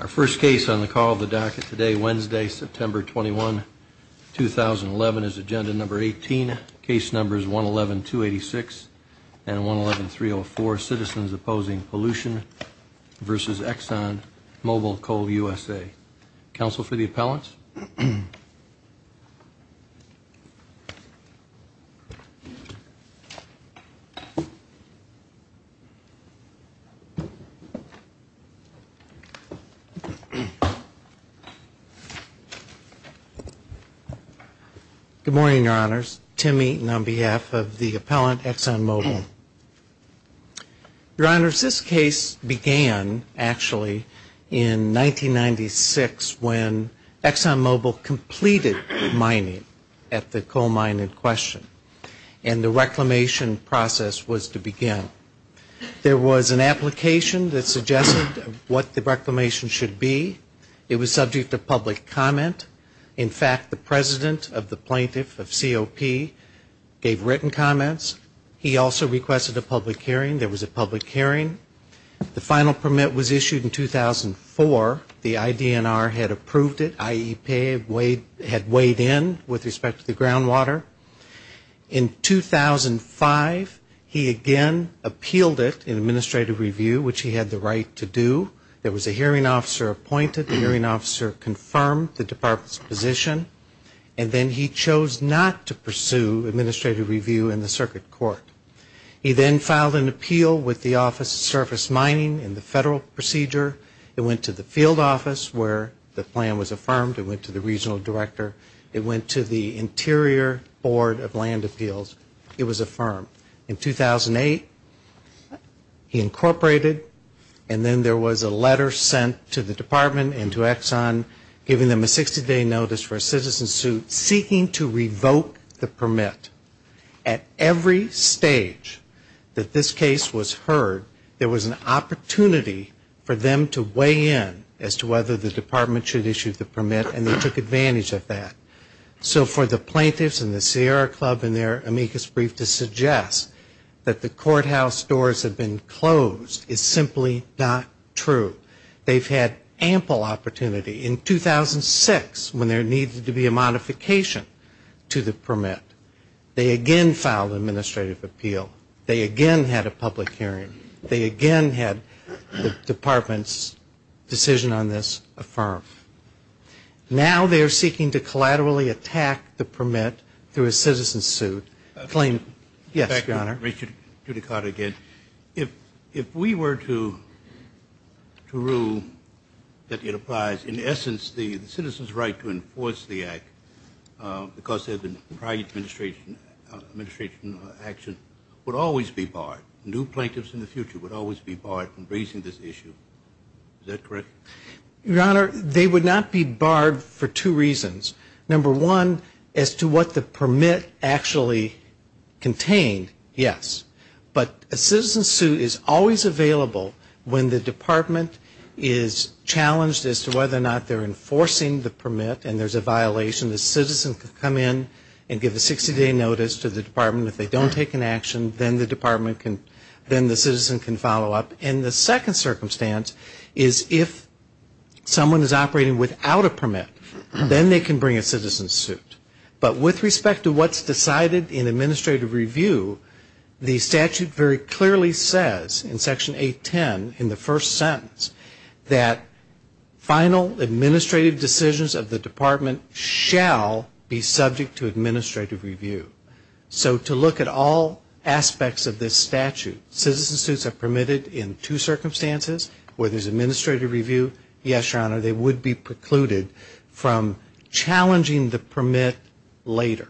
Our first case on the call of the docket today, Wednesday, September 21, 2011, is agenda number 18, case numbers 111-286 and 111-304, Citizens Opposing Pollution v. Exxonmobil Coal USA. Counsel for the appellants. Good morning, Your Honors. Tim Eaton on behalf of the appellant, Exxonmobil. Your Honors, this case began, actually, in 1996 when Exxonmobil completed mining at the coal mine in question and the reclamation process was to begin. There was an application that suggested what the reclamation should be. It was subject to public comment. In fact, the president of the plaintiff of COP gave written comments. He also requested a public hearing. There was a public hearing. The final permit was issued in 2004. The IDNR had approved it. IEP had weighed in with respect to the groundwater. In 2005, he again appealed it in administrative review, which he had the right to do. There was a hearing officer appointed. The hearing officer confirmed the department's position. And then he chose not to pursue administrative review in the circuit court. He then filed an appeal with the Office of Surface Mining in the federal procedure. It went to the field office where the plan was affirmed. It went to the regional director. It went to the Interior Board of Land Appeals. It was affirmed. In 2008, he incorporated. And then there was a letter sent to the department and to Exxon giving them a 60-day notice for a citizen suit seeking to revoke the permit. At every stage that this case was heard, there was an opportunity for them to weigh in as to whether the department should issue the permit. And they took advantage of that. So for the plaintiffs and the Sierra Club in their amicus brief to suggest that the courthouse doors have been closed is simply not true. They've had ample opportunity. In 2006, when there needed to be a modification to the permit, they again filed an administrative appeal. They again had a public hearing. They again had the department's decision on this affirmed. Now they are seeking to collaterally attack the permit through a citizen suit. Yes, Your Honor. If we were to rule that it applies, in essence, the citizen's right to enforce the act because there had been prior administration action would always be barred. New plaintiffs in the future would always be barred from raising this issue. Is that correct? Your Honor, they would not be barred for two reasons. Number one, as to what the permit actually contained, yes. But a citizen suit is always available when the department is challenged as to whether or not they're enforcing the permit and there's a violation. The citizen can come in and give a 60-day notice to the department. If they don't take an action, then the department can, then the citizen can follow up. And the second circumstance is if someone is operating without a permit, then they can bring a citizen's suit. But with respect to what's decided in administrative review, the statute very clearly says, in Section 810, in the first sentence, that final administrative decisions of the department shall be subject to administrative review. So to look at all aspects of this statute, citizen suits are permitted in two circumstances. Whether it's administrative review, yes, Your Honor, they would be precluded from challenging the permit later.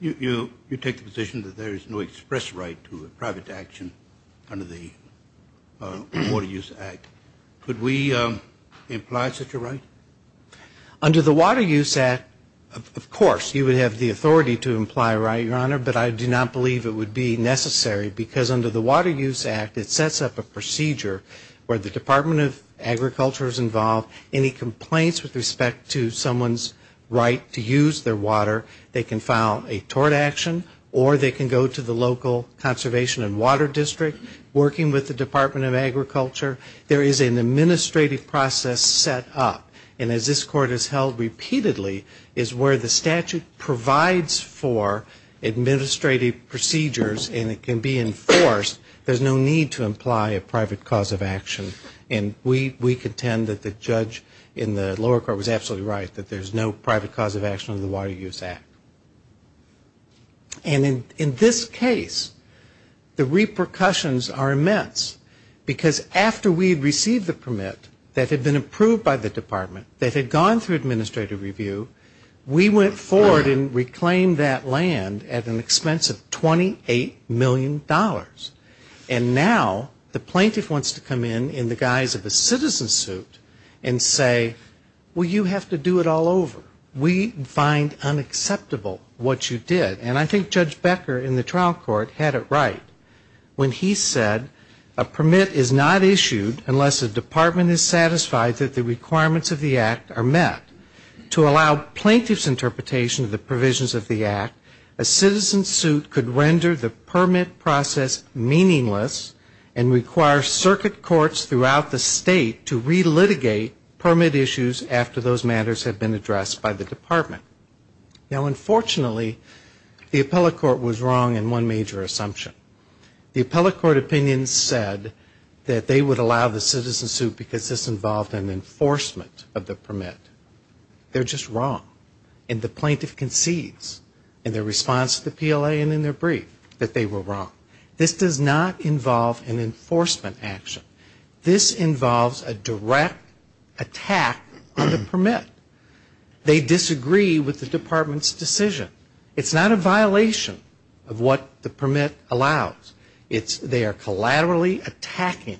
You take the position that there is no express right to a private action under the Water Use Act. Could we imply such a right? Under the Water Use Act, of course, you would have the authority to imply a right, Your Honor, but I do not believe it would be necessary because under the Water Use Act, it sets up a procedure where the Department of Agriculture is involved. Any complaints with respect to someone's right to use their water, they can file a tort action or they can go to the local conservation and water district working with the Department of Agriculture. There is an administrative process set up, and as this Court has held repeatedly, is where the statute provides for administrative procedures and it can be enforced. There's no need to imply a private cause of action. And we contend that the judge in the lower court was absolutely right, that there's no private cause of action under the Water Use Act. And in this case, the repercussions are immense because after we received the permit that had been approved by the Department, that had gone through administrative review, we went forward and reclaimed that land at an expense of $28 million. And now the plaintiff wants to come in in the guise of a citizen suit and say, well, you have to do it all over. We find unacceptable what you did. And I think Judge Becker in the trial court had it right when he said a permit is not issued unless the department is satisfied that the requirements of the act are met. To allow plaintiff's interpretation of the provisions of the act, a citizen suit could render the permit process meaningless and require circuit courts throughout the state to re-litigate permit issues after those matters have been addressed by the department. Now, unfortunately, the appellate court was wrong in one major assumption. The appellate court opinion said that they would allow the citizen suit because this involved an enforcement of the permit. They're just wrong. And the plaintiff concedes in their response to the PLA and in their brief that they were wrong. This does not involve an enforcement action. This involves a direct attack on the permit. They disagree with the department's decision. It's not a violation of what the permit allows. They are collaterally attacking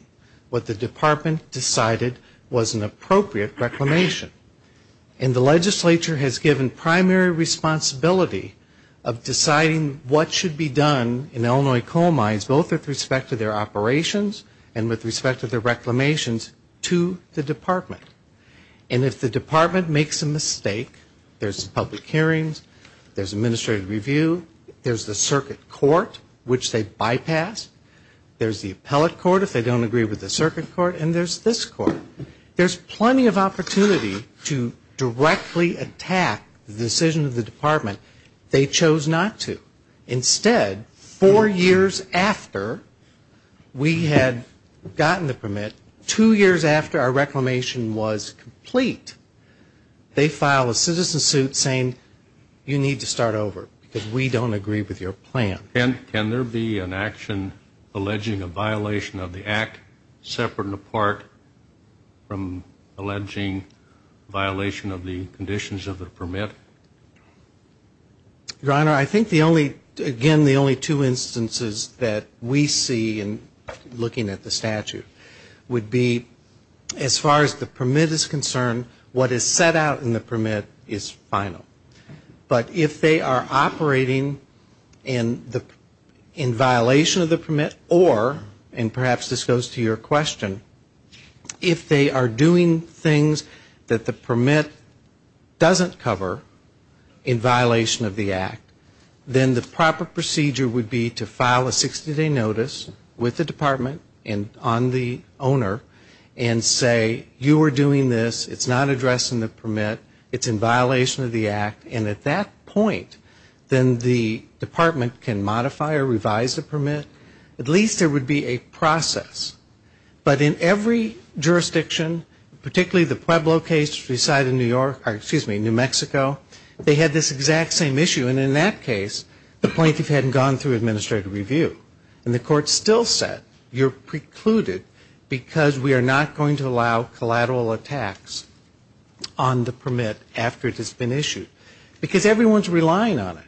what the department decided was an appropriate reclamation. And the legislature has given primary responsibility of deciding what should be done in Illinois coal mines, both with respect to their operations and with respect to their reclamations, to the department. And if the department makes a mistake, there's public hearings, there's administrative review, there's the circuit court, which they bypass, there's the appellate court if they don't agree with the circuit court, and there's this court. There's plenty of opportunity to directly attack the decision of the department they chose not to. Instead, four years after we had gotten the permit, two years after our reclamation was complete, they file a citizen suit saying you need to start over because we don't agree with your plan. Can there be an action alleging a violation of the act separate and apart from alleging violation of the conditions of the permit? Your Honor, I think the only, again, the only two instances that we see in looking at the statute would be as far as the permit is concerned, what is set out in the permit is final. But if they are operating in violation of the permit or, and perhaps this goes to your question, if they are doing things that the department can't do in violation of the act, then the proper procedure would be to file a 60-day notice with the department and on the owner and say you are doing this, it's not addressing the permit, it's in violation of the act, and at that point, then the department can modify or revise the permit. At least there would be a process. But in every jurisdiction, particularly the Pueblo case beside New York, or excuse me, New Mexico, they had this exact same issue. And in that case, the plaintiff hadn't gone through administrative review. And the court still said you're precluded because we are not going to allow collateral attacks on the permit after it has been issued. Because everyone is relying on it.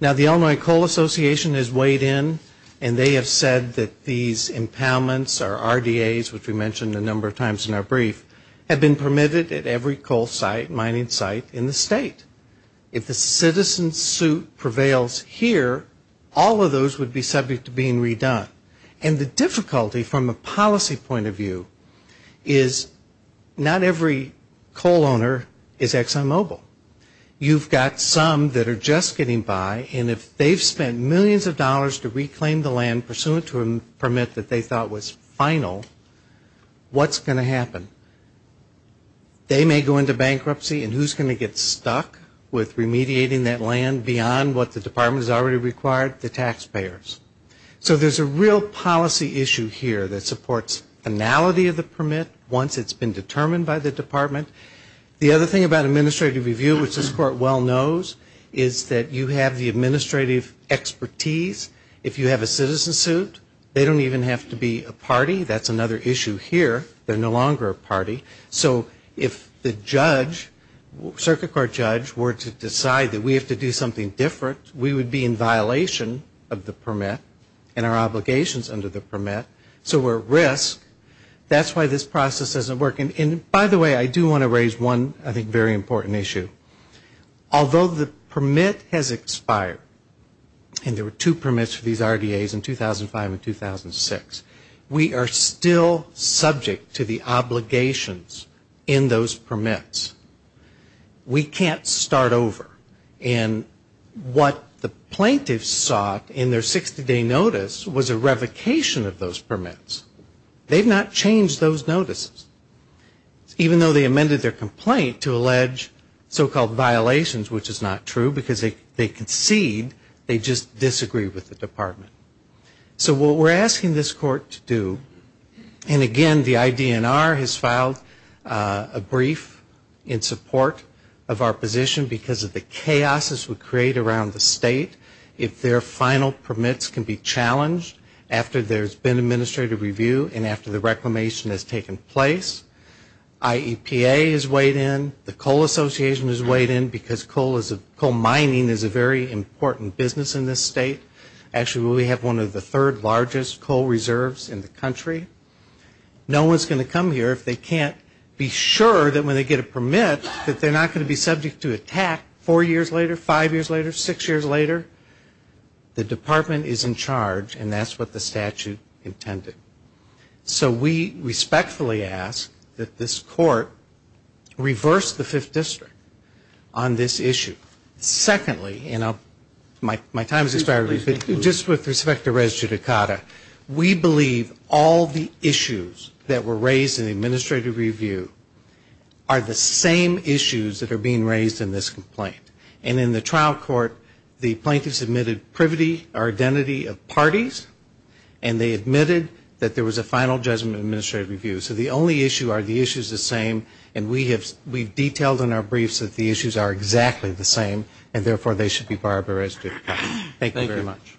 Now the Illinois Coal Association has weighed in and they have said that these impoundments or RDAs, which we mentioned a number of times in our brief, have been permitted at every coal site, mining site in the state. If the citizen suit prevails here, all of those would be subject to being redone. And the difficulty from a policy point of view is not every coal owner is ExxonMobil. You've got some that are just getting by. And if they've spent millions of dollars to reclaim the land pursuant to a permit that they thought was final, what's going to happen? They may go into bankruptcy. And who's going to get stuck with remediating that land beyond what the department has already required? The taxpayers. So there's a real policy issue here that supports finality of the permit once it's been determined by the department. The other thing about administrative review, which this court well knows, is that you have the administrative expertise. If you have a citizen suit, they don't even have to be a party. That's another issue here. They're no longer a party. So if the judge, circuit court judge, were to decide that we have to do something different, we would be in violation of the permit and our obligations under the permit. So we're at risk. That's why this is a very important issue. Although the permit has expired, and there were two permits for these RDAs in 2005 and 2006, we are still subject to the obligations in those permits. We can't start over. And what the plaintiffs sought in their 60-day notice was a revocation of those permits. They've not changed those notices. Even though they amended their complaint to allege so-called violations, which is not true, because they concede, they just disagree with the department. So what we're asking this court to do, and again, the IDNR has filed a brief in support of our position because of the chaos this would create around the state if their final permits can be challenged after there's been administrative review and after the reclamation has taken place. IEPA is weighed in. The Coal Association is weighed in because coal mining is a very important business in this state. Actually, we have one of the third largest coal reserves in the country. No one's going to come here if they can't be sure that when they get a permit that they're not going to be subject to attack four years later, five years later, six years later. The department is in charge, and that's what the statute intended. So we respectfully ask that this court reverse the Fifth District on this issue. Secondly, and my time has expired, but just with respect to res judicata, we believe all the issues that were raised in the administrative review are the same issues that are being raised in this complaint. And in the trial court, the issues that were raised in the administrative review, the plaintiffs admitted privity or identity of parties, and they admitted that there was a final judgment of administrative review. So the only issue are the issues the same, and we have detailed in our briefs that the issues are exactly the same, and therefore they should be barred by res judicata. Thank you very much.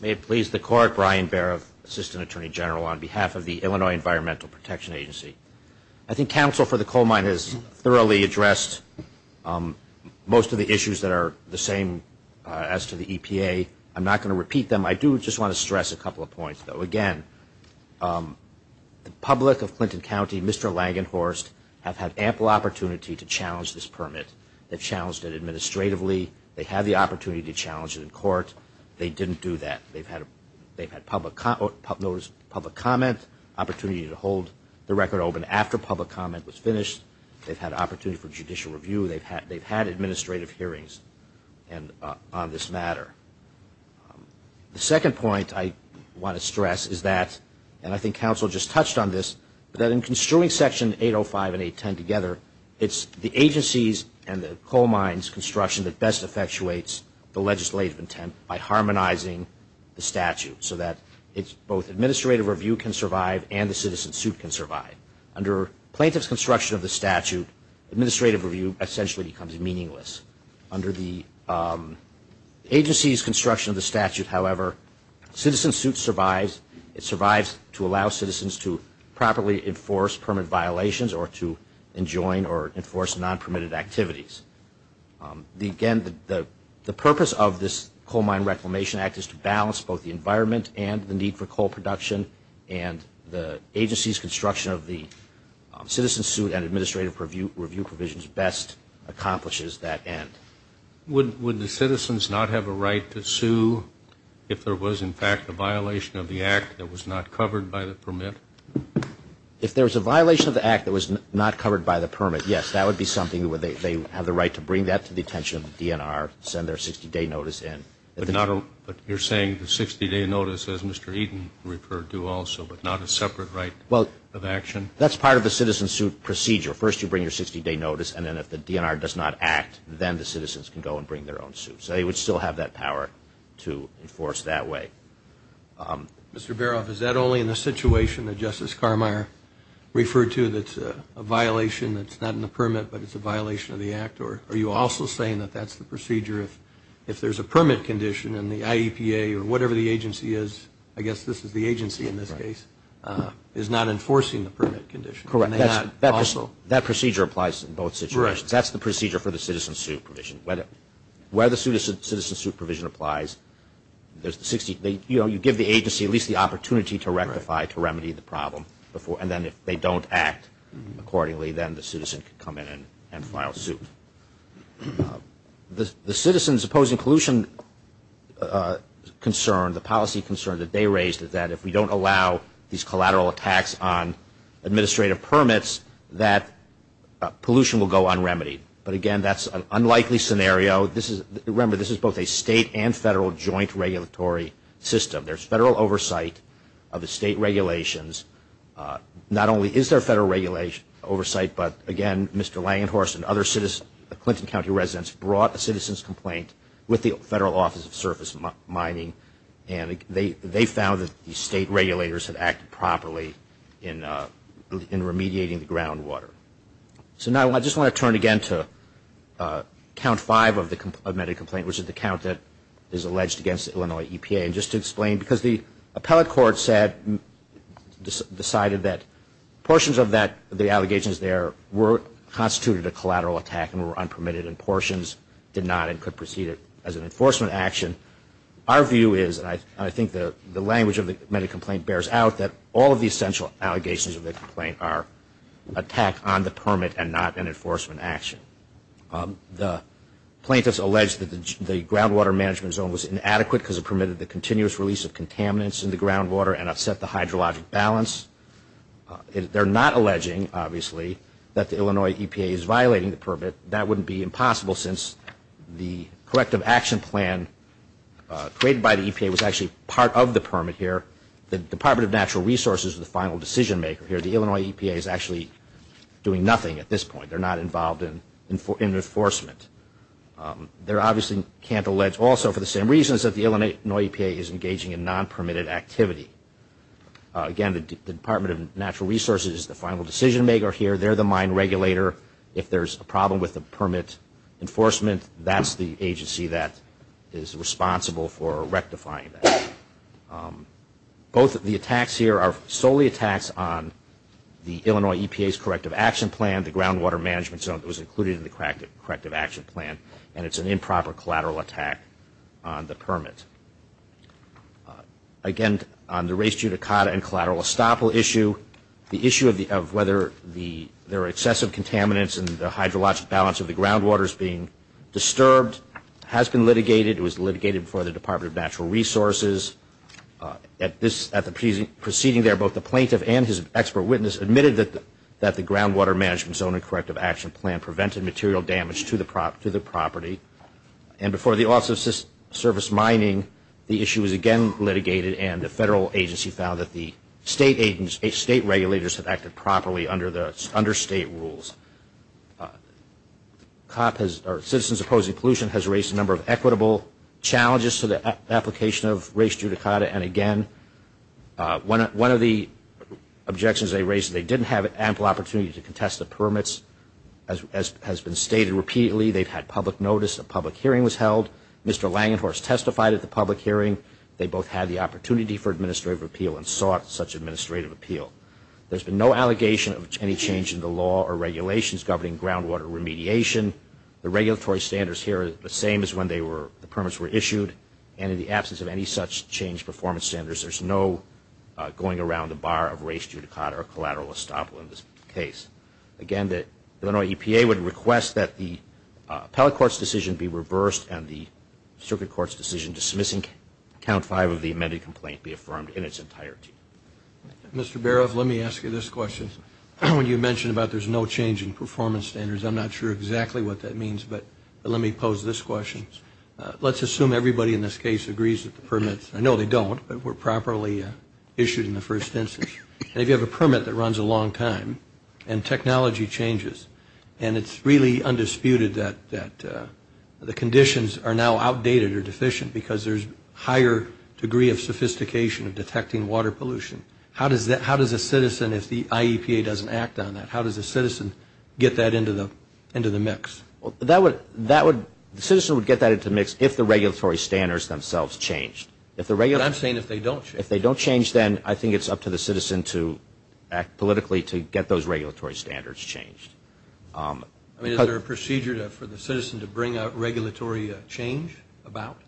May it please the Court, Brian Barrett, Assistant Attorney General on behalf of the Illinois Environmental Protection Agency. I think the counsel for the coal mine has thoroughly addressed most of the issues that are the same as to the EPA. I'm not going to repeat them. I do just want to stress a couple of points, though. Again, the public of Clinton County, Mr. Langenhorst, have had ample opportunity to challenge this permit. They've challenged it administratively. They had the opportunity to challenge it in court. They didn't do that. They've had public comment, opportunity to hold the record open after public comment, opportunity to hold the record open after public comment was finished. They've had opportunity for judicial review. They've had administrative hearings on this matter. The second point I want to stress is that, and I think counsel just touched on this, that in construing Section 805 and 810 together, it's the agencies and the coal mine's construction that best effectuates the legislative intent by harmonizing the statute so that both administrative review can survive and the citizen suit can survive. Under plaintiff's construction of the statute, administrative review essentially becomes meaningless. Under the agency's construction of the statute, however, citizen suit survives. It survives to allow citizens to properly enforce permit violations or to enjoin or enforce non-permitted activities. Again, the purpose of this Coal Mine Reclamation Act is to balance both the environment and the need for coal production, and the agency's construction of the citizen suit and administrative review provisions best accomplishes that end. Would the citizens not have a right to sue if there was, in fact, a violation of the Act that was not covered by the permit? If there was a violation of the Act that was not covered by the permit, yes, that would be something where they have the right to seek the attention of the DNR, send their 60-day notice in. But you're saying the 60-day notice, as Mr. Eaton referred to also, but not a separate right of action? Well, that's part of the citizen suit procedure. First you bring your 60-day notice, and then if the DNR does not act, then the citizens can go and bring their own suit. So they would still have that power to enforce that way. Mr. Barof, is that only in the situation that Justice Carmeier referred to that's a violation that's not in the permit, but it's a violation that's not in the permit? I'm saying that that's the procedure if there's a permit condition and the IEPA or whatever the agency is, I guess this is the agency in this case, is not enforcing the permit condition. Correct. That procedure applies in both situations. That's the procedure for the citizen suit provision. Where the citizen suit provision applies, you give the agency at least the opportunity to rectify, to remedy the problem. The citizens opposing pollution concern, the policy concern that they raised is that if we don't allow these collateral attacks on administrative permits, that pollution will go unremitied. But again, that's an unlikely scenario. Remember, this is both a state and federal joint regulatory system. There's federal oversight of the state regulations. Not only is there federal oversight, but again, Mr. Langenhorst and other Clinton County residents brought a citizens complaint with the Federal Office of Surface Mining, and they found that the state regulators had acted properly in remediating the groundwater. So now I just want to turn again to count five of the amended complaint, which is the count that is alleged against the Illinois EPA. And just to explain, because the appellate court said, decided that portions of the allegations there were constituted a collateral attack and were unpermitted, and portions did not and could proceed as an enforcement action. Our view is, and I think the language of the amended complaint bears out, that all of the essential allegations of the complaint are attack on the permit and not an enforcement action. The plaintiffs allege that the groundwater management zone was inadequate because it permitted the continuous release of contaminants in the groundwater and upset the hydrologic balance. They're not alleging, obviously, that the Illinois EPA is violating the permit. That wouldn't be impossible since the corrective action plan created by the EPA was actually part of the permit here. The Department of Natural Resources is the final decision maker here. The Illinois EPA is actually doing nothing at this point. They're not involved in enforcement. They obviously can't allege also for the same reasons that the Illinois EPA is engaging in non-permitted activity. Again, the Department of Natural Resources is the final decision maker here. They're the mine regulator. If there's a problem with the permit enforcement, that's the agency that is responsible for rectifying that. Both of the attacks here are solely attacks on the Illinois EPA's corrective action plan, the groundwater management zone that was included in the corrective action plan, and it's an improper collateral attack on the permit. Again, on the race judicata and collateral estoppel issue, the issue of whether there are excessive contaminants and the hydrologic balance of the groundwater is being disturbed has been litigated. It was litigated before the Department of Natural Resources. At the proceeding there, both the plaintiff and his expert witness admitted that the groundwater management zone and corrective action plan prevented material damage to the property. And before the Office of Service Mining, the issue was again litigated and the federal agency found that the state regulators have acted properly under state rules. Citizens Opposing Pollution has raised a number of equitable challenges to the application of race judicata, and again, one of the objections they raised is they didn't have ample opportunity to contest the permits. As has been stated repeatedly, they've had public notice, a public hearing was held. Mr. Langenhorst testified at the public hearing. They both had the opportunity for administrative appeal and sought such administrative appeal. There's been no allegation of any change in the law or regulations governing groundwater remediation. The regulatory standards here are the same as when the permits were issued, and in the absence of any such change performance standards, there's no going around the bar of race judicata or collateral estoppel in this case. Again, the Illinois EPA would request that the appellate court's decision be reversed and the circuit court's decision dismissing count five of the amended complaint be affirmed in its entirety. Mr. Baroff, let me ask you this question. When you mentioned about there's no change in performance standards, I'm not sure exactly what that means, but let me pose this question. Let's assume everybody in this case agrees with the permits. I know they don't, but were properly issued in the first instance. And if you have a permit that runs a long time and technology changes, and it's really undisputed that the conditions are now outdated or deficient because there's higher degree of sophistication of detecting water pollution, how does a citizen, if the IEPA doesn't act on that, how does a citizen get that into the mix? The citizen would get that into the mix if the regulatory standards themselves changed. But I'm saying if they don't change. If they change, then I think it's up to the citizen to act politically to get those regulatory standards changed. Is there a procedure for the citizen to bring out regulatory change about?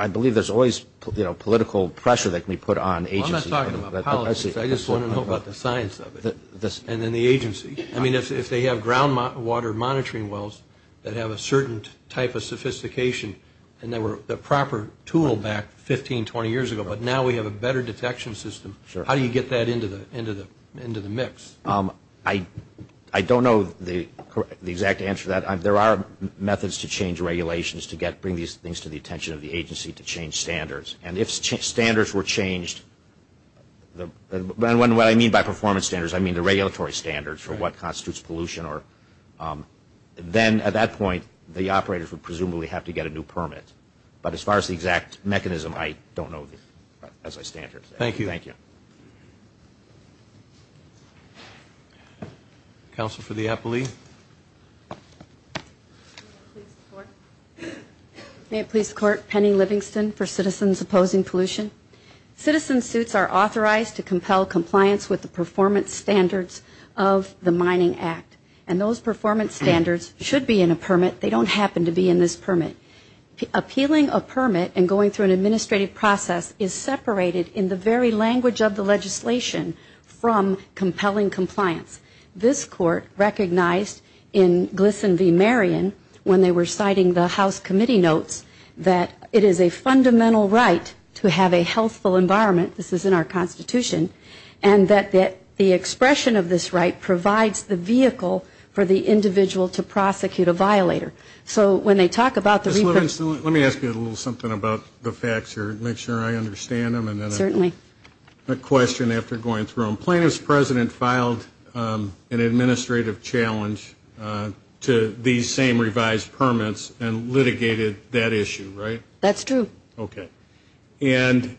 I believe there's always political pressure that can be put on agencies. I'm not talking about politics. I just want to know about the science of it and then the agency. If they have groundwater monitoring wells that have a certain type of sophistication and they were the proper tool back 15, 20 years ago, but now we have a better detection system, how do you get that into the mix? I don't know the exact answer to that. There are methods to change regulations to bring these things to the attention of the agency to change standards. And if standards were changed, and what I mean by performance standards, I mean the regulatory standards for what constitutes pollution, then at that point the operators would presumably have to get a new permit. But as far as the exact mechanism, I don't know as I stand here. Thank you. Counsel for the appellee. May it please the Court, Penny Livingston for Citizens Opposing Pollution. Citizen suits are authorized to compel compliance with the performance standards of the Mining Act. And those performance standards should be in a permit. They don't happen to be in this permit. Appealing a permit and going through an administrative process is separated in the very language of the legislation from compelling compliance. This Court recognized in Glisson v. Marion when they were citing the House Committee notes that it is a fundamental right to have a healthful environment, this is in our Constitution, and that the expression of this right provides the vehicle for the individual to prosecute a violator. So when they talk about the reproach. Ms. Livingston, let me ask you a little something about the facts here to make sure I understand them. Certainly. And then a question after going through them. Plaintiff's president filed an administrative challenge to these same revised permits and litigated that issue, right? That's true. Okay. And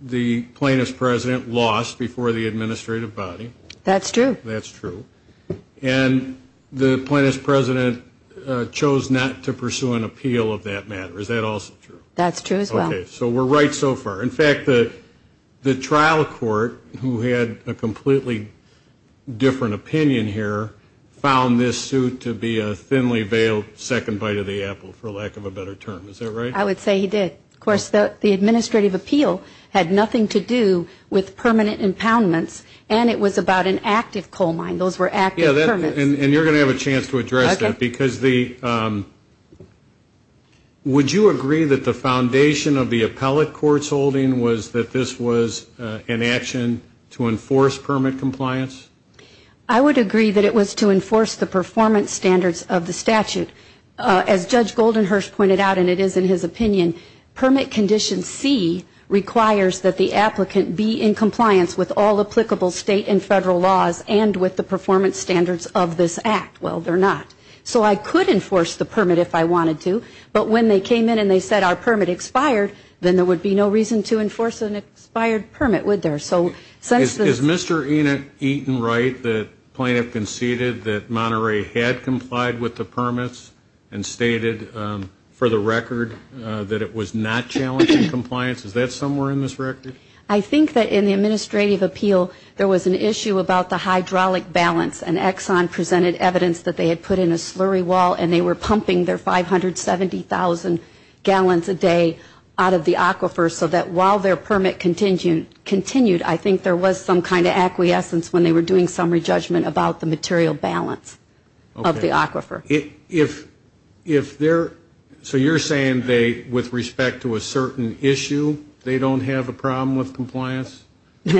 the plaintiff's president lost before the administrative body. That's true. And the plaintiff's president chose not to pursue an appeal of that matter. Is that also true? That's true as well. So we're right so far. In fact, the trial court who had a completely different opinion here found this suit to be a thinly veiled second bite of the apple, for lack of a better term. Is that right? I would say he did. Of course, the administrative appeal had nothing to do with permanent impoundments, and it was about an active coal mine. Those were active permits. Would you agree that the foundation of the appellate court's holding was that this was an action to enforce permit compliance? I would agree that it was to enforce the performance standards of the statute. As Judge Goldenhurst pointed out, and it is in his opinion, permit condition C requires that the applicant be in compliance with all applicable state and federal laws and with the performance standards of this act. Well, they're not. So I could enforce the permit if I wanted to, but when they came in and they said our permit expired, then there would be no reason to enforce an expired permit, would there? Is Mr. Eaton right that the plaintiff conceded that Monterey had complied with the permits and stated for the record that it was not challenging compliance? Is that somewhere in this record? I think that in the administrative appeal there was an issue about the hydraulic balance, and Exxon presented evidence that they had put in a slurry and said, I think there was some kind of acquiescence when they were doing summary judgment about the material balance of the aquifer. So you're saying with respect to a certain issue, they don't have a problem with compliance?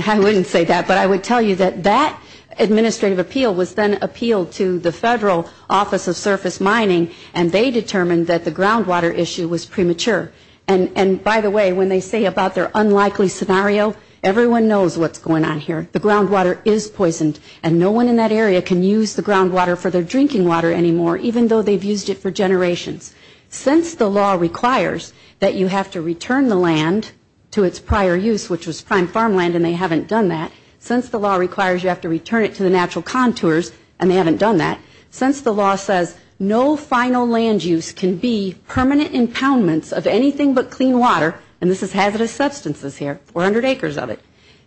I wouldn't say that, but I would tell you that that administrative appeal was then appealed to the Federal Office of Surface Mining, and they determined that the groundwater issue was premature. And by the way, when they say about their unlikely scenario, everyone knows what's going on here. The groundwater is poisoned, and no one in that area can use the groundwater for their drinking water anymore, even though they've used it for generations. Since the law requires that you have to return the land to its prior use, which was prime farmland, and they haven't done that, since the law requires you have to return it to the natural contours, and they haven't done that, since the law says no final land use can be done with anything but clean water, and this is hazardous substances here, 400 acres of it,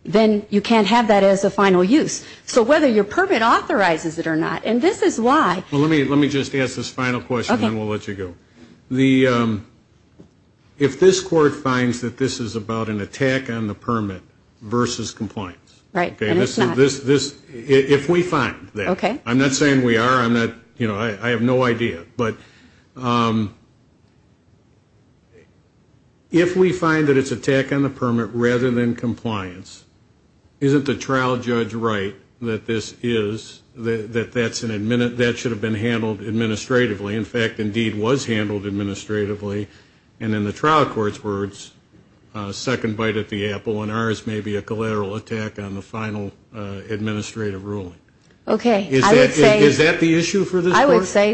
then you can't have that as a final use. So whether your permit authorizes it or not, and this is why. Let me just ask this final question, and then we'll let you go. If this Court finds that this is about an attack on the permit versus compliance, if we find that, I'm not saying we are, I have no idea, but if we find that it's an attack on the permit rather than compliance, isn't the trial judge right that this is, that that should have been handled administratively, in fact, indeed was handled administratively, and in the trial court's words, a second bite at the apple, and ours may be a collateral attack on the final administrative ruling? I would say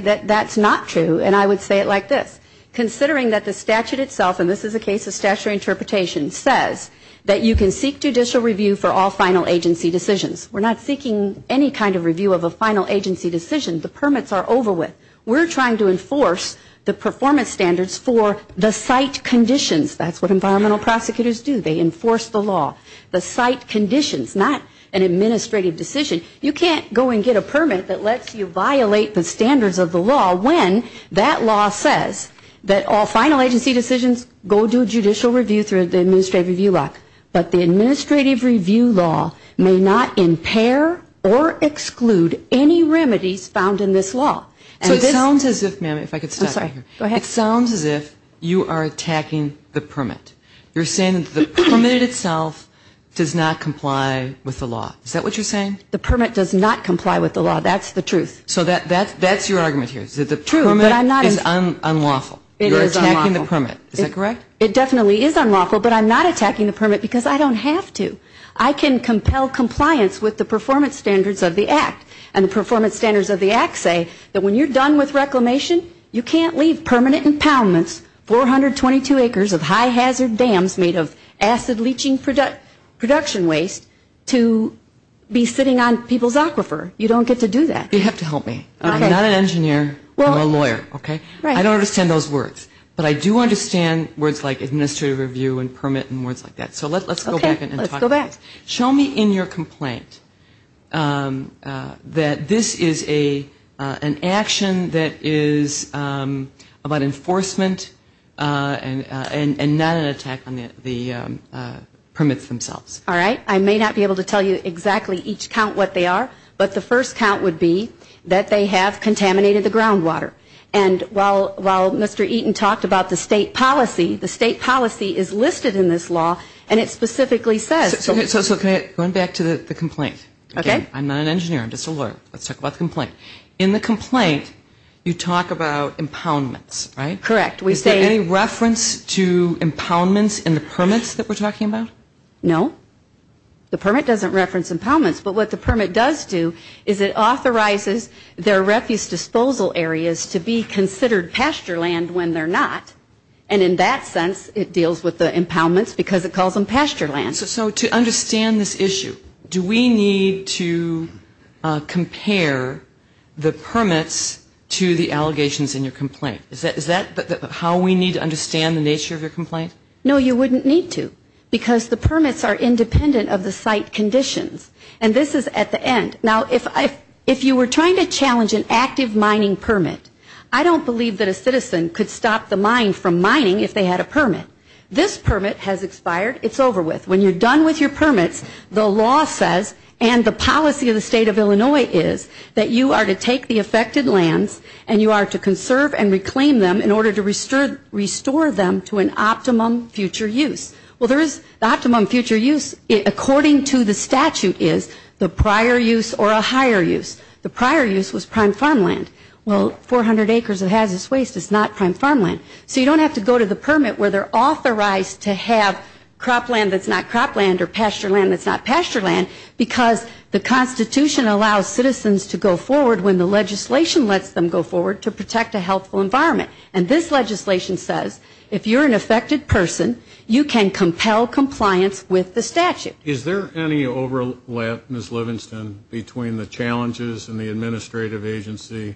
that that's not true, and I would say it like this, considering that the statute itself, and this is a case of statutory interpretation, says that you can seek judicial review for all final agency decisions. We're not seeking any kind of review of a final agency decision. The permits are over with. We're trying to enforce the performance standards for the site conditions. That's what environmental prosecutors do. They enforce the law. The site conditions, not an administrative decision. You can't go and get a permit that lets you violate the standards of the law when that law says that all final agency decisions, go do judicial review through the administrative review lock, but the administrative review law may not impair or exclude any remedies found in this law. You're saying that the permit itself does not comply with the law. Is that what you're saying? The permit does not comply with the law. That's the truth. It definitely is unlawful, but I'm not attacking the permit because I don't have to. I can compel compliance with the performance standards of the Act. And the performance standards of the Act say that when you're done with reclamation, you can't leave permanent impoundments, 422 acres of high hazard dams made of acid leaching production waste to be sitting on people's aquifer. You don't get to do that. You have to help me. I'm not an engineer. I'm a lawyer. I don't understand those words, but I do understand words like administrative review and permit and words like that. So let's go back. Show me in your complaint that this is an action that is about enforcement and not an attack on the permits themselves. All right. I may not be able to tell you exactly each count what they are, but the first count would be that they have contaminated the groundwater. And while Mr. Eaton talked about the state policy, the state policy is listed in this law, and it specifically says So going back to the complaint, I'm not an engineer. I'm just a lawyer. Let's talk about the complaint. In the complaint, you talk about impoundments, right? Is there any reference to impoundments in the permits that we're talking about? No. The permit doesn't reference impoundments, but what the permit does do is it authorizes their refuse disposal areas to be considered and to compare the permits to the allegations in your complaint. Is that how we need to understand the nature of your complaint? No, you wouldn't need to, because the permits are independent of the site conditions. And this is at the end. Now, if you were trying to challenge an active mining permit, I don't believe that a citizen could stop the mine from mining if they had a permit. This permit has expired, it's over with. When you're done with your permits, the law says, and the policy of the state of Illinois is, that you are to take the affected lands and you are to conserve and reclaim them in order to restore them to an optimum future use. Well, there is the optimum future use, according to the statute, is the prior use or a higher use. The prior use was prime farmland. Well, 400 acres of hazardous waste is not prime farmland. So you don't have to go to the permit where they're authorized to have cropland that's not cropland or pastureland that's not pastureland, because the Constitution allows citizens to go forward when the legislation lets them go forward to protect a healthful environment. And this legislation says, if you're an affected person, you can compel compliance with the statute. Is there any overlap, Ms. Livingston, between the challenges and the administrative agency,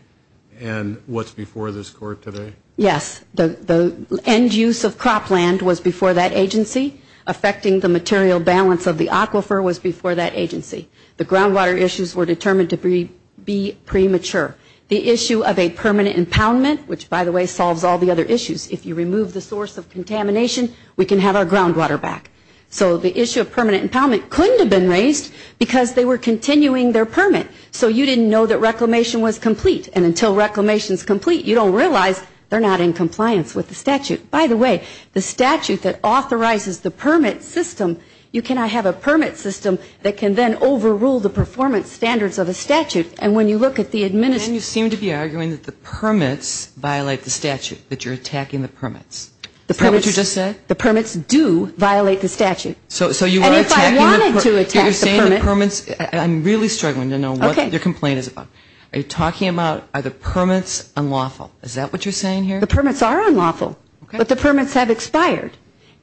and what's before this court today? Yes, the end use of cropland was before that agency, affecting the material balance of the aquifer was before that agency. The groundwater issues were determined to be premature. The issue of a permanent impoundment, which, by the way, solves all the other issues. If you remove the source of contamination, we can have our groundwater back. So the issue of permanent impoundment couldn't have been raised because they were continuing their permit. So you didn't know that reclamation was complete. And until reclamation is complete, you don't realize they're not in compliance with the statute. By the way, the statute that authorizes the permit system, you cannot have a permit system that can then overrule the performance standards of a statute. And you seem to be arguing that the permits violate the statute, that you're attacking the permits. Is that what you just said? The permits do violate the statute. And if I wanted to attack the permits. I'm really struggling to know what your complaint is about. Are you talking about are the permits unlawful? Is that what you're saying here? The permits are unlawful. But the permits have expired.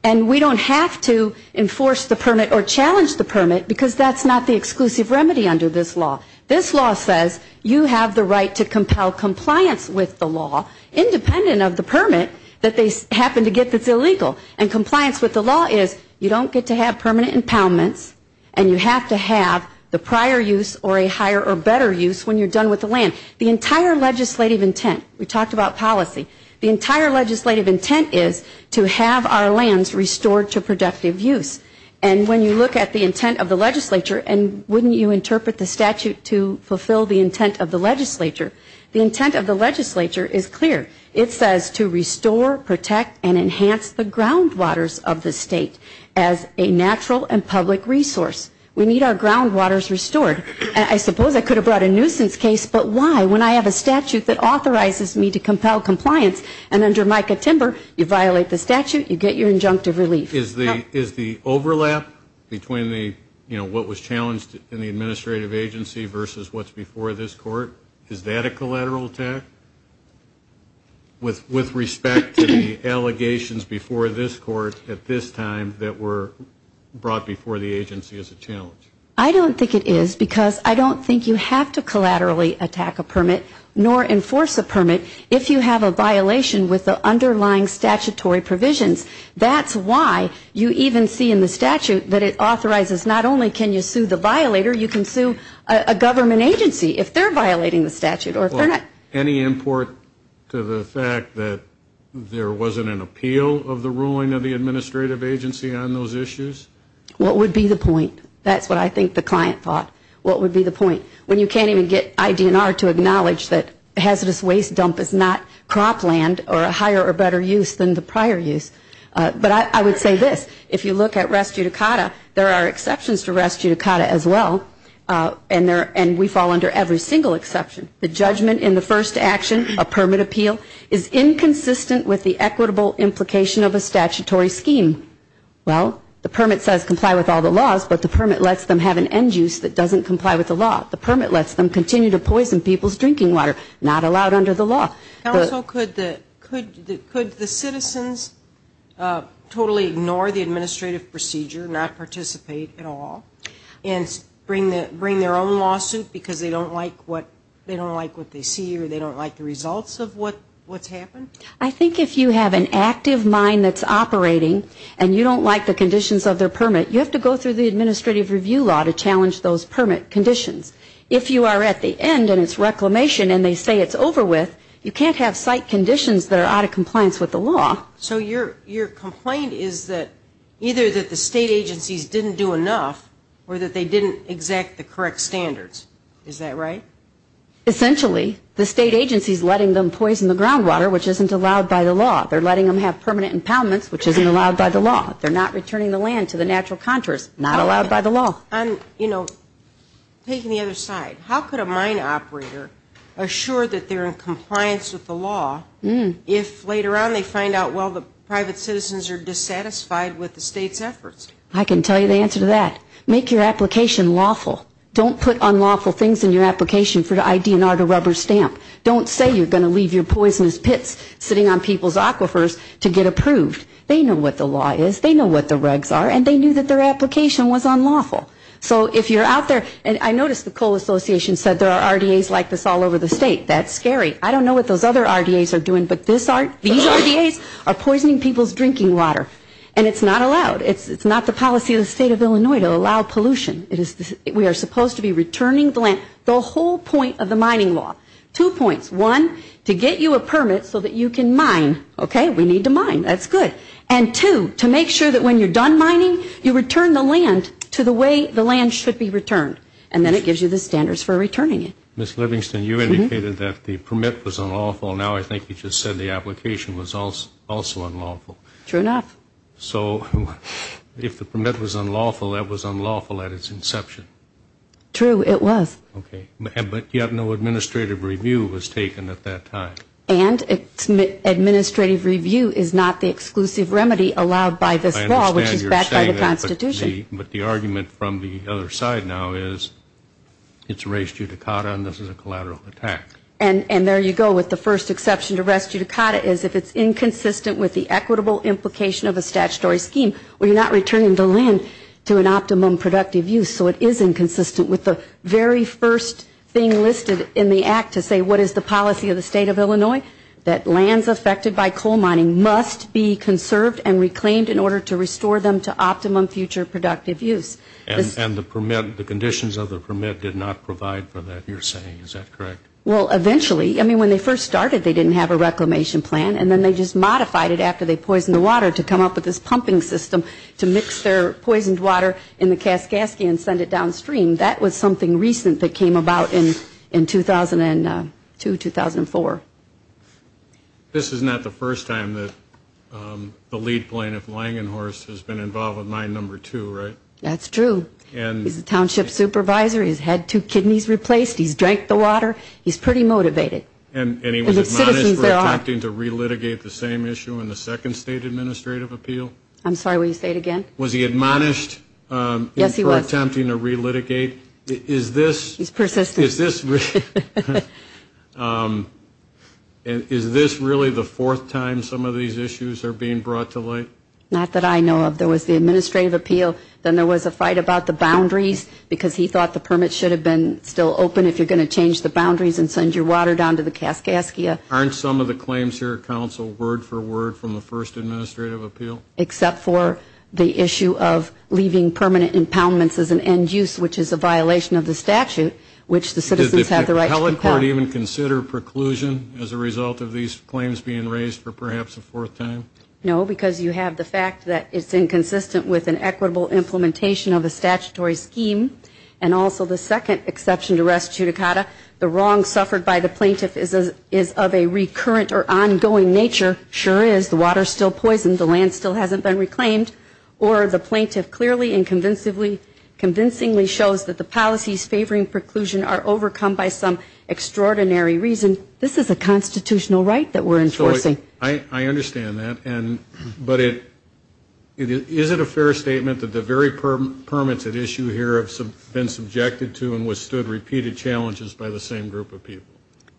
And we don't have to enforce the permit or challenge the permit because that's not the exclusive remedy under this law. This law says you have the right to compel compliance with the law independent of the permit that they happen to get that's illegal. And compliance with the law is you don't get to have permanent impoundments and you have to have the prior use or a higher or better use when you're done with the land. The entire legislative intent, we talked about policy, the entire legislative intent is to have our lands restored to productive use. And when you look at the intent of the legislature and wouldn't you interpret the statute to fulfill the intent of the legislature? The intent of the legislature is clear. It says to restore, protect, and enhance the groundwaters of the state as a natural and public resource. We need our groundwaters restored. I suppose I could have brought a nuisance case, but why when I have a statute that authorizes me to compel compliance and under Micah-Timber you violate the statute, you get your injunctive relief. Is the overlap between what was challenged in the administrative agency versus what's before this court, is that a collateral attack? With respect to the allegations before this court at this time that were brought before the agency as a challenge? I don't think it is because I don't think you have to collaterally attack a permit nor enforce a permit if you have a violation with the underlying statutory provisions. That's why you even see in the statute that it authorizes not only can you sue the violator, you can sue a government agency if they're violating the statute. Any import to the fact that there wasn't an appeal of the ruling of the administrative agency on those issues? What would be the point? That's what I think the client thought. What would be the point? When you can't even get ID&R to acknowledge that hazardous waste dump is not cropland or a higher or better use than the prior use. But I would say this, if you look at res judicata, there are exceptions to res judicata as well. And we fall under every single exception. The judgment in the first action, a permit appeal, is inconsistent with the equitable implication of a statutory scheme. Well, the permit says comply with all the laws, but the permit lets them have an end use that doesn't comply with the law. The permit lets them continue to poison people's drinking water. Not allowed under the law. Could the citizens totally ignore the administrative procedure, not participate at all, and bring their own lawsuit because they don't like what they see or they don't like the results of what's happened? I think if you have an active mind that's operating and you don't like the conditions of their permit, you have to go through the administrative review law to challenge those permit conditions. If you are at the end and it's reclamation and they say it's over with, you can't have site conditions that are out of compliance with the law. So your complaint is that either that the state agencies didn't do enough or that they didn't exact the correct standards. Is that right? Essentially, the state agency is letting them poison the groundwater, which isn't allowed by the law. They're letting them have permanent impoundments, which isn't allowed by the law. They're not returning the land to the natural contours. Not allowed by the law. On, you know, taking the other side, how could a mine operator assure that they're in compliance with the law if later on they find out, well, the private citizens are dissatisfied with the state's efforts? I can tell you the answer to that. Make your application lawful. Don't put unlawful things in your application for the IDNR to rubber stamp. Don't say you're going to leave your poisonous pits sitting on people's aquifers to get approved. They know what the law is. They know what the regs are. And they knew that their application was unlawful. So if you're out there, and I noticed the Coal Association said there are RDAs like this all over the state. That's scary. I don't know what those other RDAs are doing, but these RDAs are poisoning people's drinking water. And it's not allowed. It's not permitted. It's not the policy of the state of Illinois to allow pollution. We are supposed to be returning the land. The whole point of the mining law. Two points. One, to get you a permit so that you can mine. Okay? We need to mine. That's good. And two, to make sure that when you're done mining, you return the land to the way the land should be returned. And then it gives you the standards for returning it. Ms. Livingston, you indicated that the permit was unlawful. Now I think you just said the application was also unlawful. True enough. So if the permit was unlawful, that was unlawful at its inception. True, it was. Okay. But yet no administrative review was taken at that time. And administrative review is not the exclusive remedy allowed by this law, which is backed by the Constitution. I understand you're saying that, but the argument from the other side now is it's res judicata and this is a collateral attack. And there you go with the first exception to res judicata is if it's inconsistent with the equitable implication of a statutory scheme, well, you're not returning the land to an optimum productive use. So it is inconsistent with the very first thing listed in the act to say what is the policy of the state of Illinois? That lands affected by coal mining must be conserved and reclaimed in order to restore them to optimum future productive use. And the conditions of the permit did not provide for that, you're saying. Is that correct? Well, eventually. I mean, when they first started, they didn't have a reclamation plan. And then they just modified it after they poisoned the water to come up with this pumping system to mix their poisoned water in the Kaskaskia and send it downstream. That was something recent that came about in 2002, 2004. This is not the first time that the lead plaintiff, Langenhorst, has been involved with Mine No. 2, right? That's true. He's the township supervisor. He's had two kidneys replaced. He's drank the water. He's pretty motivated. And he was admonished for attempting to relitigate the same issue in the second state administrative appeal? I'm sorry, will you say it again? Was he admonished for attempting to relitigate? Is this really the fourth time some of these issues are being brought to light? Not that I know of. There was the administrative appeal. Then there was a fight about the boundaries, because he thought the permit should have been still open if you're going to change the boundaries and send your water down to the Kaskaskia. Aren't some of the claims here, counsel, word for word from the first administrative appeal? Except for the issue of leaving permanent impoundments as an end use, which is a violation of the statute, which the citizens have the right to compel. Does the solid court even consider preclusion as a result of these claims being raised for perhaps a fourth time? No, because you have the fact that it's inconsistent with an equitable implementation of a statutory scheme. And also the second exception to res judicata, the wrong suffered by the plaintiff is of a recurrent or ongoing nature. Sure is. The water's still poisoned. The land still hasn't been reclaimed. Or the plaintiff clearly and convincingly shows that the policies favoring preclusion are overcome by some extraordinary reason, this is a constitutional right that we're enforcing. I understand that. But is it a fair statement that the very permits at issue here have been subjected to and withstood repeated challenges by the same group of people?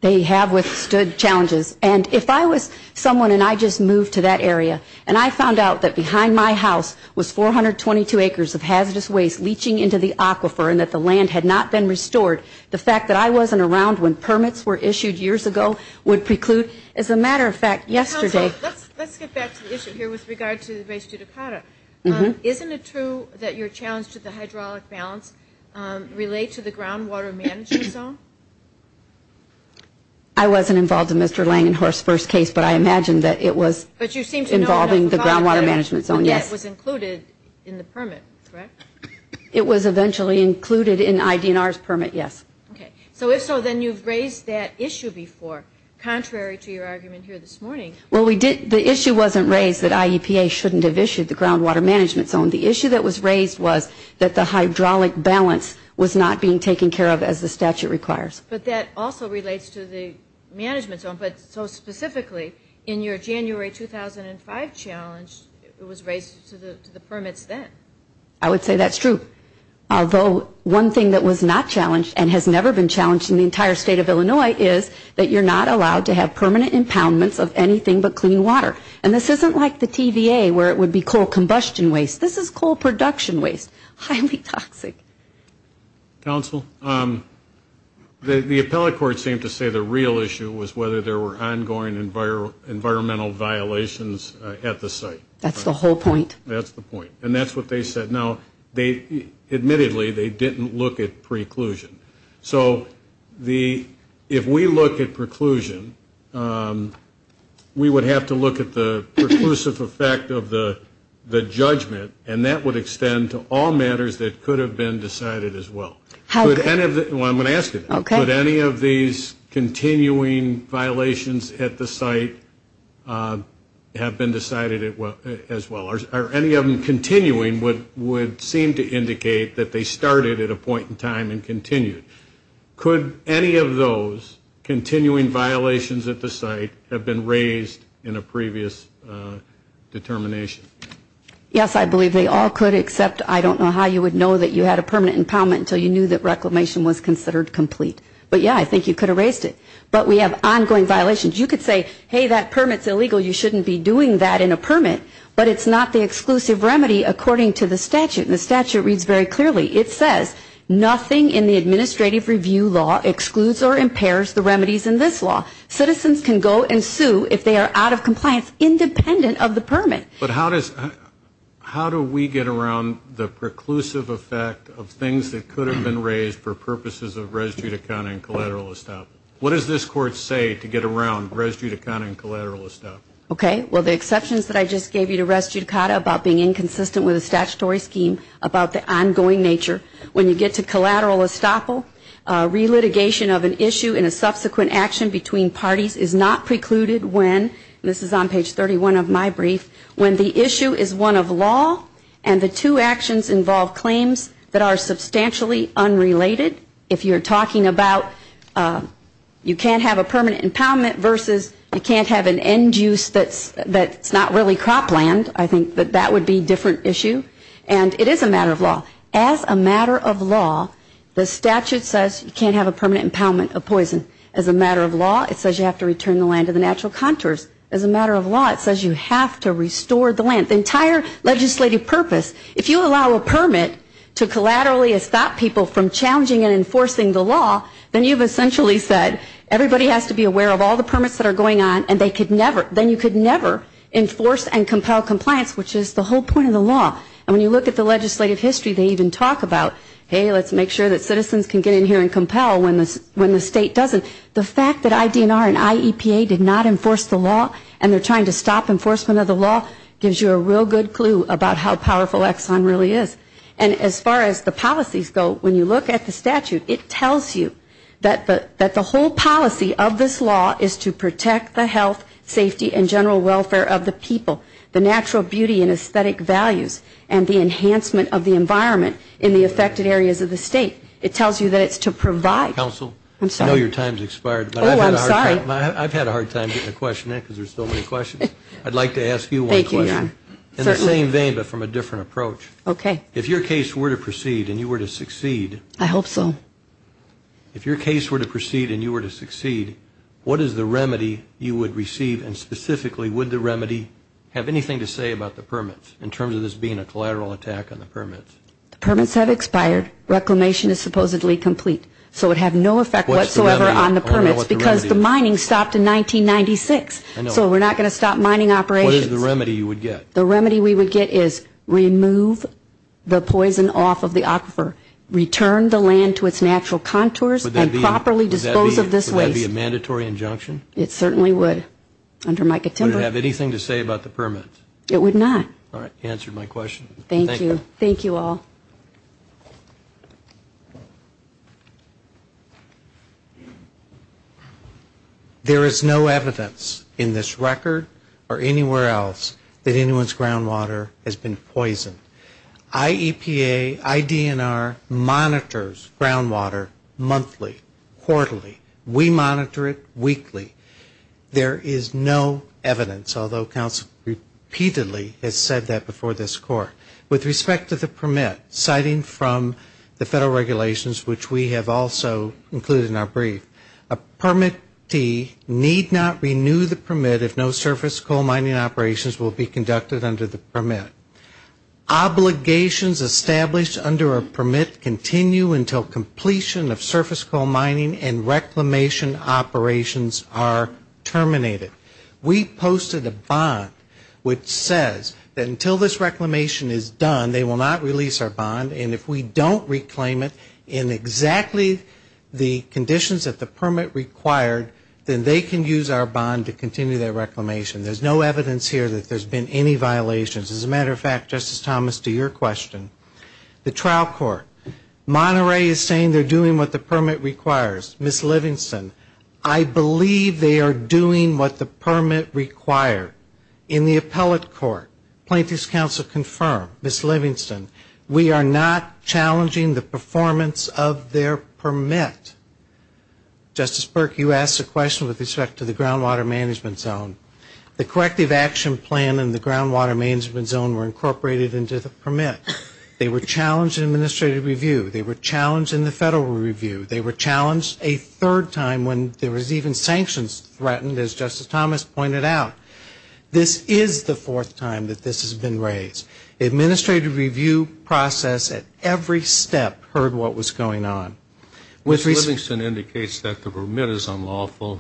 They have withstood challenges. And if I was someone and I just moved to that area, and I found out that behind my house was 422 acres of hazardous waste leaching into the aquifer and that the land had not been restored, the fact that I wasn't around when permits were issued years ago would preclude. As a matter of fact, yesterday Let's get back to the issue here with regard to the res judicata. Isn't it true that your challenge to the hydraulic balance relate to the groundwater management zone? I wasn't involved in Mr. Langenhorst's first case, but I imagine that it was involving the groundwater management zone. Yes. And that was included in the permit, correct? It was eventually included in ID&R's permit, yes. Okay. So if so, then you've raised that issue before, contrary to your argument here this morning. Well, the issue wasn't raised that IEPA shouldn't have issued the groundwater management zone. The issue that was raised was that the hydraulic balance was not being taken care of as the statute requires. But that also relates to the management zone. But so specifically, in your January 2005 challenge, it was raised to the permits then. I would say that's true. Although one thing that was not challenged and has never been challenged in the entire state of Illinois is that you're not allowed to have permanent impoundments of anything but clean water. And this isn't like the TVA where it would be coal combustion waste. This is coal production waste, highly toxic. Counsel, the appellate court seemed to say the real issue was whether there were ongoing environmental violations at the site. That's the whole point. That's the point. And that's what they said. Now, admittedly, they didn't look at preclusion. So if we look at preclusion, we would have to look at the preclusive effect of the judgment. And that would extend to all matters that could have been decided as well. Well, I'm going to ask you that. Could any of these continuing violations at the site have been decided as well? Or any of them continuing would seem to indicate that they started at a point in time and continued. Could any of those continuing violations at the site have been raised in a previous case? In a previous determination? Yes, I believe they all could, except I don't know how you would know that you had a permanent impoundment until you knew that reclamation was considered complete. But, yeah, I think you could have raised it. But we have ongoing violations. You could say, hey, that permit's illegal. You shouldn't be doing that in a permit. But it's not the exclusive remedy according to the statute. And the statute reads very clearly. It says, nothing in the administrative review law excludes or impairs the remedies in this law. Citizens can go and sue if they are out of compliance, independent of the permit. But how does, how do we get around the preclusive effect of things that could have been raised for purposes of res judicata and collateral estoppel? What does this Court say to get around res judicata and collateral estoppel? Okay. Well, the exceptions that I just gave you to res judicata about being inconsistent with a statutory scheme, about the ongoing nature, when you get to collateral estoppel, relitigation of an issue in a subsequent action between parties is not precluded when, and this is on page 31 of my brief, when the issue is one of law and the two actions involve claims that are substantially unrelated. If you're talking about you can't have a permanent impoundment versus you can't have an end use that's not really cropland, I think that would be a different issue. And it is a matter of law. As a matter of law, the statute says you can't have a permanent impoundment of poison. As a matter of law, it says you have to return the land to the natural contours. As a matter of law, it says you have to restore the land. The entire legislative purpose, if you allow a permit to collaterally estop people from challenging and enforcing the law, then you've essentially said everybody has to be aware of all the permits that are going on and they could never, then you could never enforce and compel compliance, which is the whole point of the law. And when you look at the legislative history, they even talk about, hey, let's make sure that citizens can get in here and compel when the state doesn't. The fact that IDNR and IEPA did not enforce the law and they're trying to stop enforcement of the law gives you a real good clue about how powerful Exxon really is. And as far as the policies go, when you look at the statute, it tells you that the whole policy of this law is to protect the health, safety, and general welfare of the people, the natural beauty and aesthetic values, and the enhancement of the environment in the affected areas of the state. It tells you that it's to provide. I've had a hard time getting a question in because there's so many questions. I'd like to ask you one question. In the same vein, but from a different approach. If your case were to proceed and you were to succeed, what is the remedy you would receive and specifically would the remedy have anything to say about the permits in terms of this being a collateral attack on the permits? The permits have expired. Reclamation is supposedly complete. So it would have no effect whatsoever on the permits because the mining stopped in 1996. So we're not going to stop mining operations. What is the remedy you would get? The remedy we would get is remove the poison off of the aquifer. Return the land to its natural contours and properly dispose of this waste. Would that be a mandatory injunction? It certainly would. Under Mica-Timber. Would it have anything to say about the permits? It would not. All right. Answered my question. Thank you. Thank you all. There is no evidence in this record or anywhere else that anyone's groundwater has been poisoned. IEPA, IDNR monitors groundwater monthly, quarterly. We monitor it weekly. There is no evidence, although counsel repeatedly has said that before this Court, that there is no evidence that anyone's groundwater has been poisoned. With respect to the permit, citing from the federal regulations, which we have also included in our brief, a permittee need not renew the permit if no surface coal mining operations will be conducted under the permit. Obligations established under a permit continue until completion of surface coal mining and reclamation operations are terminated. We posted a bond which says that until this reclamation is done, they will not release our bond. And if we don't reclaim it in exactly the conditions that the permit required, then they can use our bond to continue that reclamation. There's no evidence here that there's been any violations. As a matter of fact, Justice Thomas, to your question, the trial court, Monterey is saying they're doing what the permit requires. Ms. Livingston, I believe they are doing what the permit required. In the appellate court, plaintiff's counsel confirmed, Ms. Livingston, we are not challenging the performance of their permit. Justice Burke, you asked a question with respect to the groundwater management zone. The corrective action plan and the groundwater management zone were incorporated into the permit. They were challenged in administrative review, they were challenged in the federal review, they were challenged a third time when there was even sanctions threatened, as Justice Thomas pointed out. This is the fourth time that this has been raised. Administrative review process at every step heard what was going on. Ms. Livingston indicates that the permit is unlawful.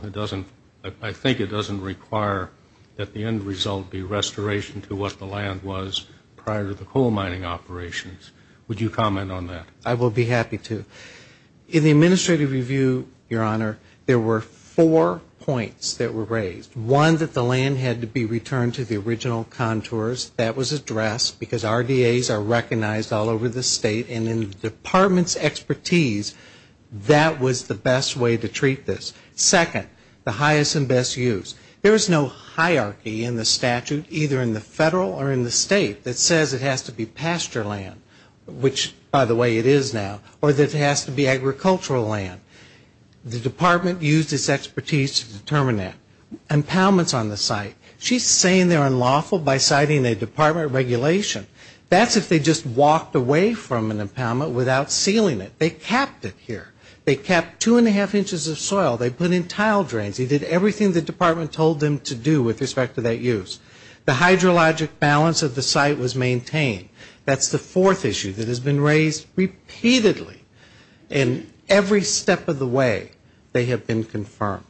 I think it doesn't require that the end result be restoration to what the land was prior to the coal mining operations. Would you comment on that? I will be happy to. In the administrative review, Your Honor, there were four points that were raised. One, that the land had to be returned to the original contours. That was addressed because RDAs are recognized all over the state and in the department's expertise, that was the best way to treat this. Second, the highest and best use. There is no hierarchy in the statute, either in the federal or in the state, that says it has to be pasture land, which by the way it is now, or that it has to be agricultural land. The department used its expertise to determine that. Impoundments on the site, she's saying they're unlawful by citing a department regulation. That's if they just walked away from an impoundment without sealing it. They kept it here. They kept two and a half inches of soil, they put in tile drains, they did everything the department told them to do with respect to that use. The hydrologic balance of the site was maintained. That's the fourth issue that has been raised repeatedly in every step of the way they have been confirmed.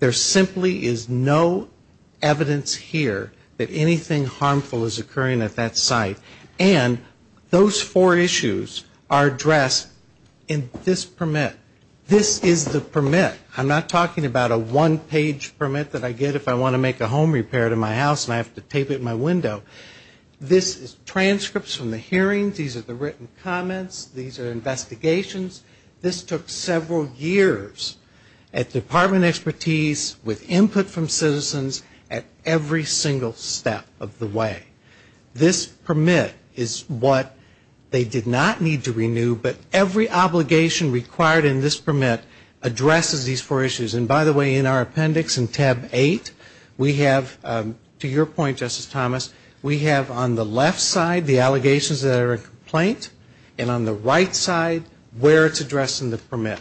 There simply is no evidence here that anything harmful is occurring at that site. And those four issues are addressed in this permit. This is the permit. I'm not talking about a one-page permit that I get if I want to make a home repair to my house and I have to tape it in my window. This is transcripts from the hearings, these are the written comments, these are investigations. This took several years at department expertise, with input from citizens at every single step of the way. This permit is what they did not need to renew, but every obligation required in this permit addresses the issue. And by the way, in our appendix in tab eight, we have, to your point, Justice Thomas, we have on the left side the allegations that are in complaint, and on the right side where it's addressed in the permit.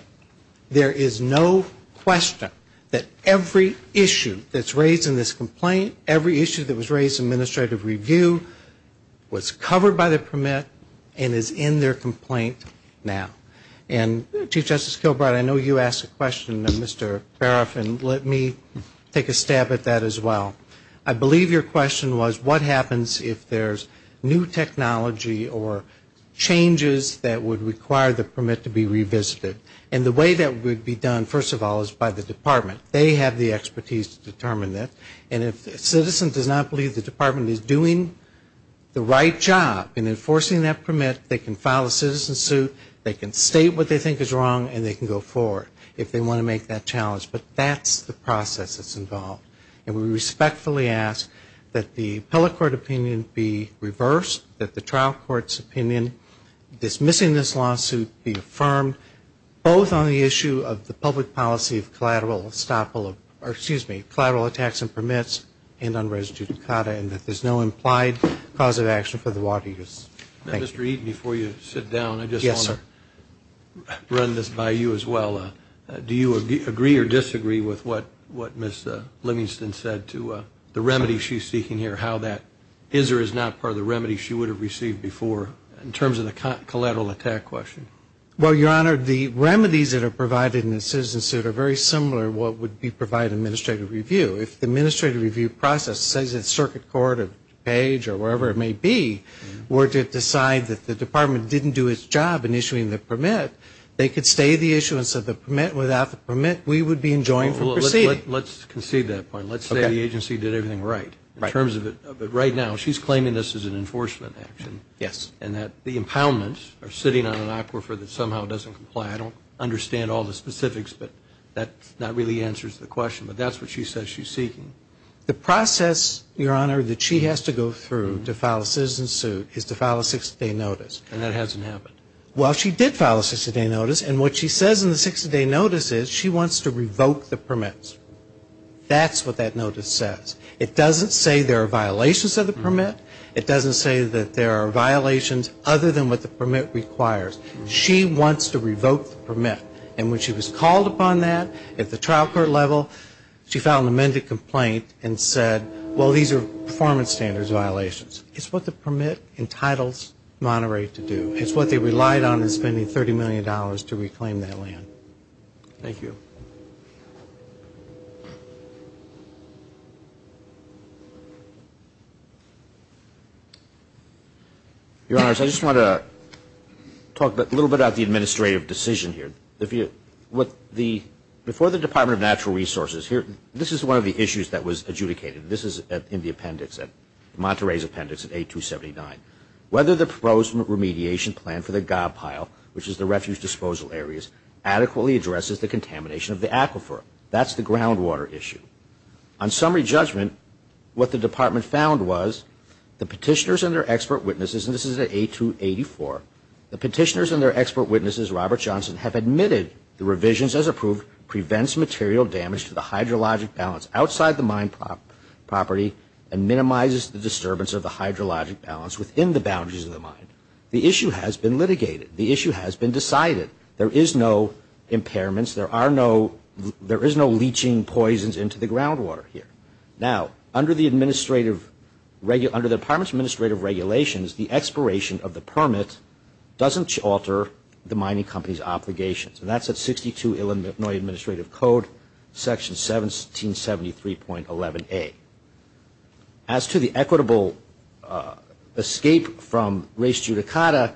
There is no question that every issue that's raised in this complaint, every issue that was raised in administrative review, was covered by the permit and is in their complaint now. And Chief Justice Kilbride, I know you asked a question, Mr. Baroff, and let me take a stab at that as well. I believe your question was what happens if there's new technology or changes that would require the permit to be revisited. And the way that would be done, first of all, is by the department. They have the expertise to determine that. And if a citizen does not believe the department is doing the right job in enforcing that permit, they can file a citizen suit, they can state what they think is wrong, and they can go forward if they want to make that challenge. But that's the process that's involved. And we respectfully ask that the appellate court opinion be reversed, that the trial court's opinion dismissing this lawsuit be affirmed, both on the issue of the permits and on res judicata, and that there's no implied cause of action for the water use. Mr. Eaton, before you sit down, I just want to run this by you as well. Do you agree or disagree with what Ms. Livingston said to the remedy she's seeking here, how that is or is not part of the remedy she would have received before, in terms of the collateral attack question? Well, Your Honor, the remedies that are provided in the citizen suit are very similar to what would be provided in administrative review. If the administrative review process says that circuit court or page or wherever it may be were to decide that the department didn't do its job in issuing the permit, they could stay the issuance of the permit, without the permit, we would be enjoined from proceeding. Let's concede that point. Let's say the agency did everything right, in terms of it, but right now she's claiming this is an enforcement action. Yes. And that the impoundments are sitting on an aquifer that somehow doesn't comply. I don't understand all the specifics, but that not really answers the question, but that's what she says she's seeking. The process, Your Honor, that she has to go through to file a citizen suit is to file a 60-day notice. And that hasn't happened. Well, she did file a 60-day notice, and what she says in the 60-day notice is she wants to revoke the permits. That's what that notice says. It doesn't say there are violations of the permit. It doesn't say that there are violations other than what the permit requires. She wants to revoke the permit. And when she was called upon that at the trial court level, she filed an amended complaint and said, well, these are performance standards violations. It's what the permit entitles Monterey to do. It's what they relied on in spending $30 million to reclaim that land. Thank you. Your Honors, I just want to talk a little bit about the administrative decision here. Before the Department of Natural Resources, this is one of the issues that was adjudicated. This is in the appendix, Monterey's appendix at 8279. Whether the proposed remediation plan for the gob pile, which is the refuge disposal areas, adequately addresses the contamination of the aquifer. That's the groundwater issue. On summary judgment, what the Department found was the petitioners and their expert witnesses, and this is at 8284, the petitioners and their expert witnesses, Robert Johnson, have admitted the revisions as approved prevents material damage to the hydrologic balance outside the mine property and minimizes the disturbance of the hydrologic balance within the mine. Within the boundaries of the mine, the issue has been litigated, the issue has been decided, there is no impairments, there is no leaching poisons into the groundwater here. Now, under the Department's administrative regulations, the expiration of the permit doesn't alter the mining company's obligations. And that's at 62 Illinois Administrative Code, Section 1773.11a. As to the equitable escape from res judicata,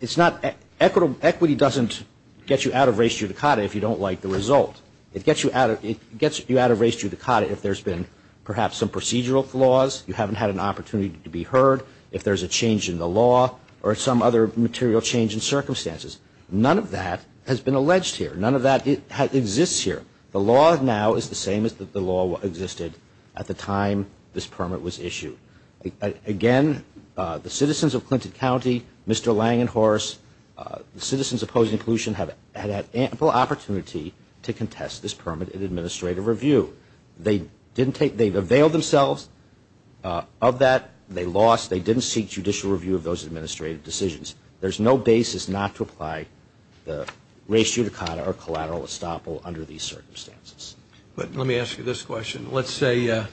it's not, equity doesn't get you out of res judicata if you don't like the result. It gets you out of res judicata if there's been perhaps some procedural flaws, you haven't had an opportunity to be heard, if there's a change in the law, or some other material change in circumstances. None of that has been alleged here. None of that exists here. The law now is the same as the law existed at the time this permit was issued. Again, the citizens of Clinton County, Mr. Lang and Horace, the citizens opposing pollution have had ample opportunity to contest this permit in administrative review. They didn't take, they availed themselves of that, they lost, they didn't seek judicial review of those administrative decisions. There's no basis not to apply the res judicata or collateral estoppel under these circumstances. But let me ask you this question. Let's say the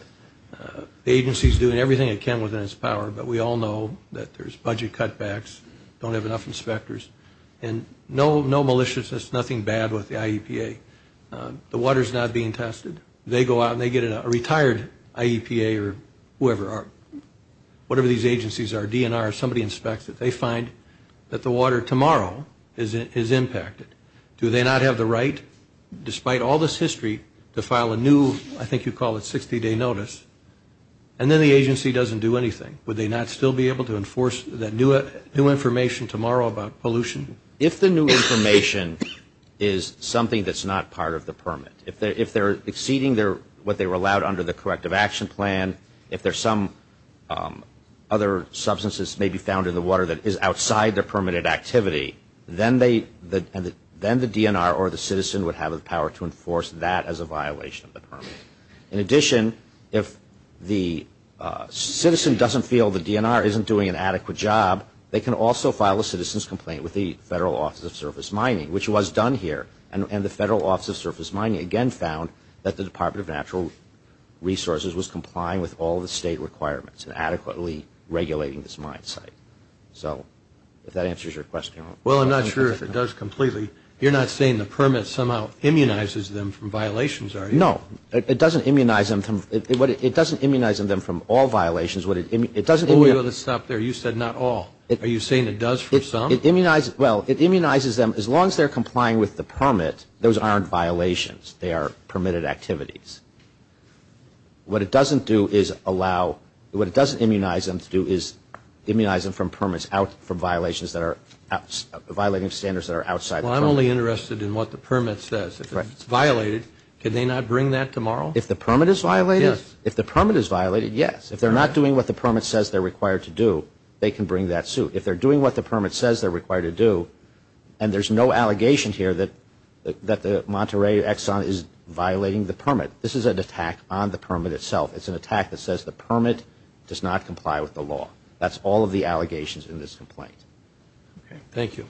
agency's doing everything it can within its power, but we all know that there's budget cutbacks, don't have enough inspectors, and no maliciousness, nothing bad with the IEPA. The water's not being tested. They go out and they get a retired IEPA or whoever, whatever these agencies are, DNR, somebody inspects it, they find that the water tomorrow is impacted. Do they not have the right, despite all this history, to file a new, I think you call it, 60-day notice? And then the agency doesn't do anything. Would they not still be able to enforce that new information tomorrow about pollution? If they're exceeding what they were allowed under the corrective action plan, if there's some other substances may be found in the water that is outside their permitted activity, then the DNR or the citizen would have the power to enforce that as a violation of the permit. In addition, if the citizen doesn't feel the DNR isn't doing an adequate job, they can also file a citizen's complaint with the Federal Office of Surface Mining, which was done here. And the Federal Office of Surface Mining again found that the Department of Natural Resources was complying with all the state requirements and adequately regulating this mine site. So if that answers your question. Well, I'm not sure if it does completely. You're not saying the permit somehow immunizes them from violations, are you? No. It doesn't immunize them from all violations. Let's stop there. You said not all. Are you saying it does for some? Well, it immunizes them. As long as they're complying with the permit, those aren't violations. They are permitted activities. What it doesn't do is allow, what it doesn't immunize them to do is immunize them from permits out from violations that are, violating standards that are outside the permit. Well, I'm only interested in what the permit says. If it's violated, can they not bring that tomorrow? If the permit is violated, yes. If they're not doing what the permit says they're required to do, they can bring that suit. If they're doing what the permit says they're required to do, and there's no allegation here that the Monterey Exxon is violating the permit. This is an attack on the permit itself. It's an attack that says the permit does not comply with the law. That's all of the allegations in this complaint. Okay. Thank you.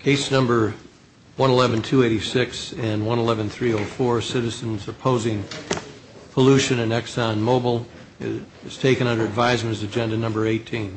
Case number 111286 and 111304, Citizens Opposing Pollution in Exxon Mobil, is taken under advisement as agenda number 18.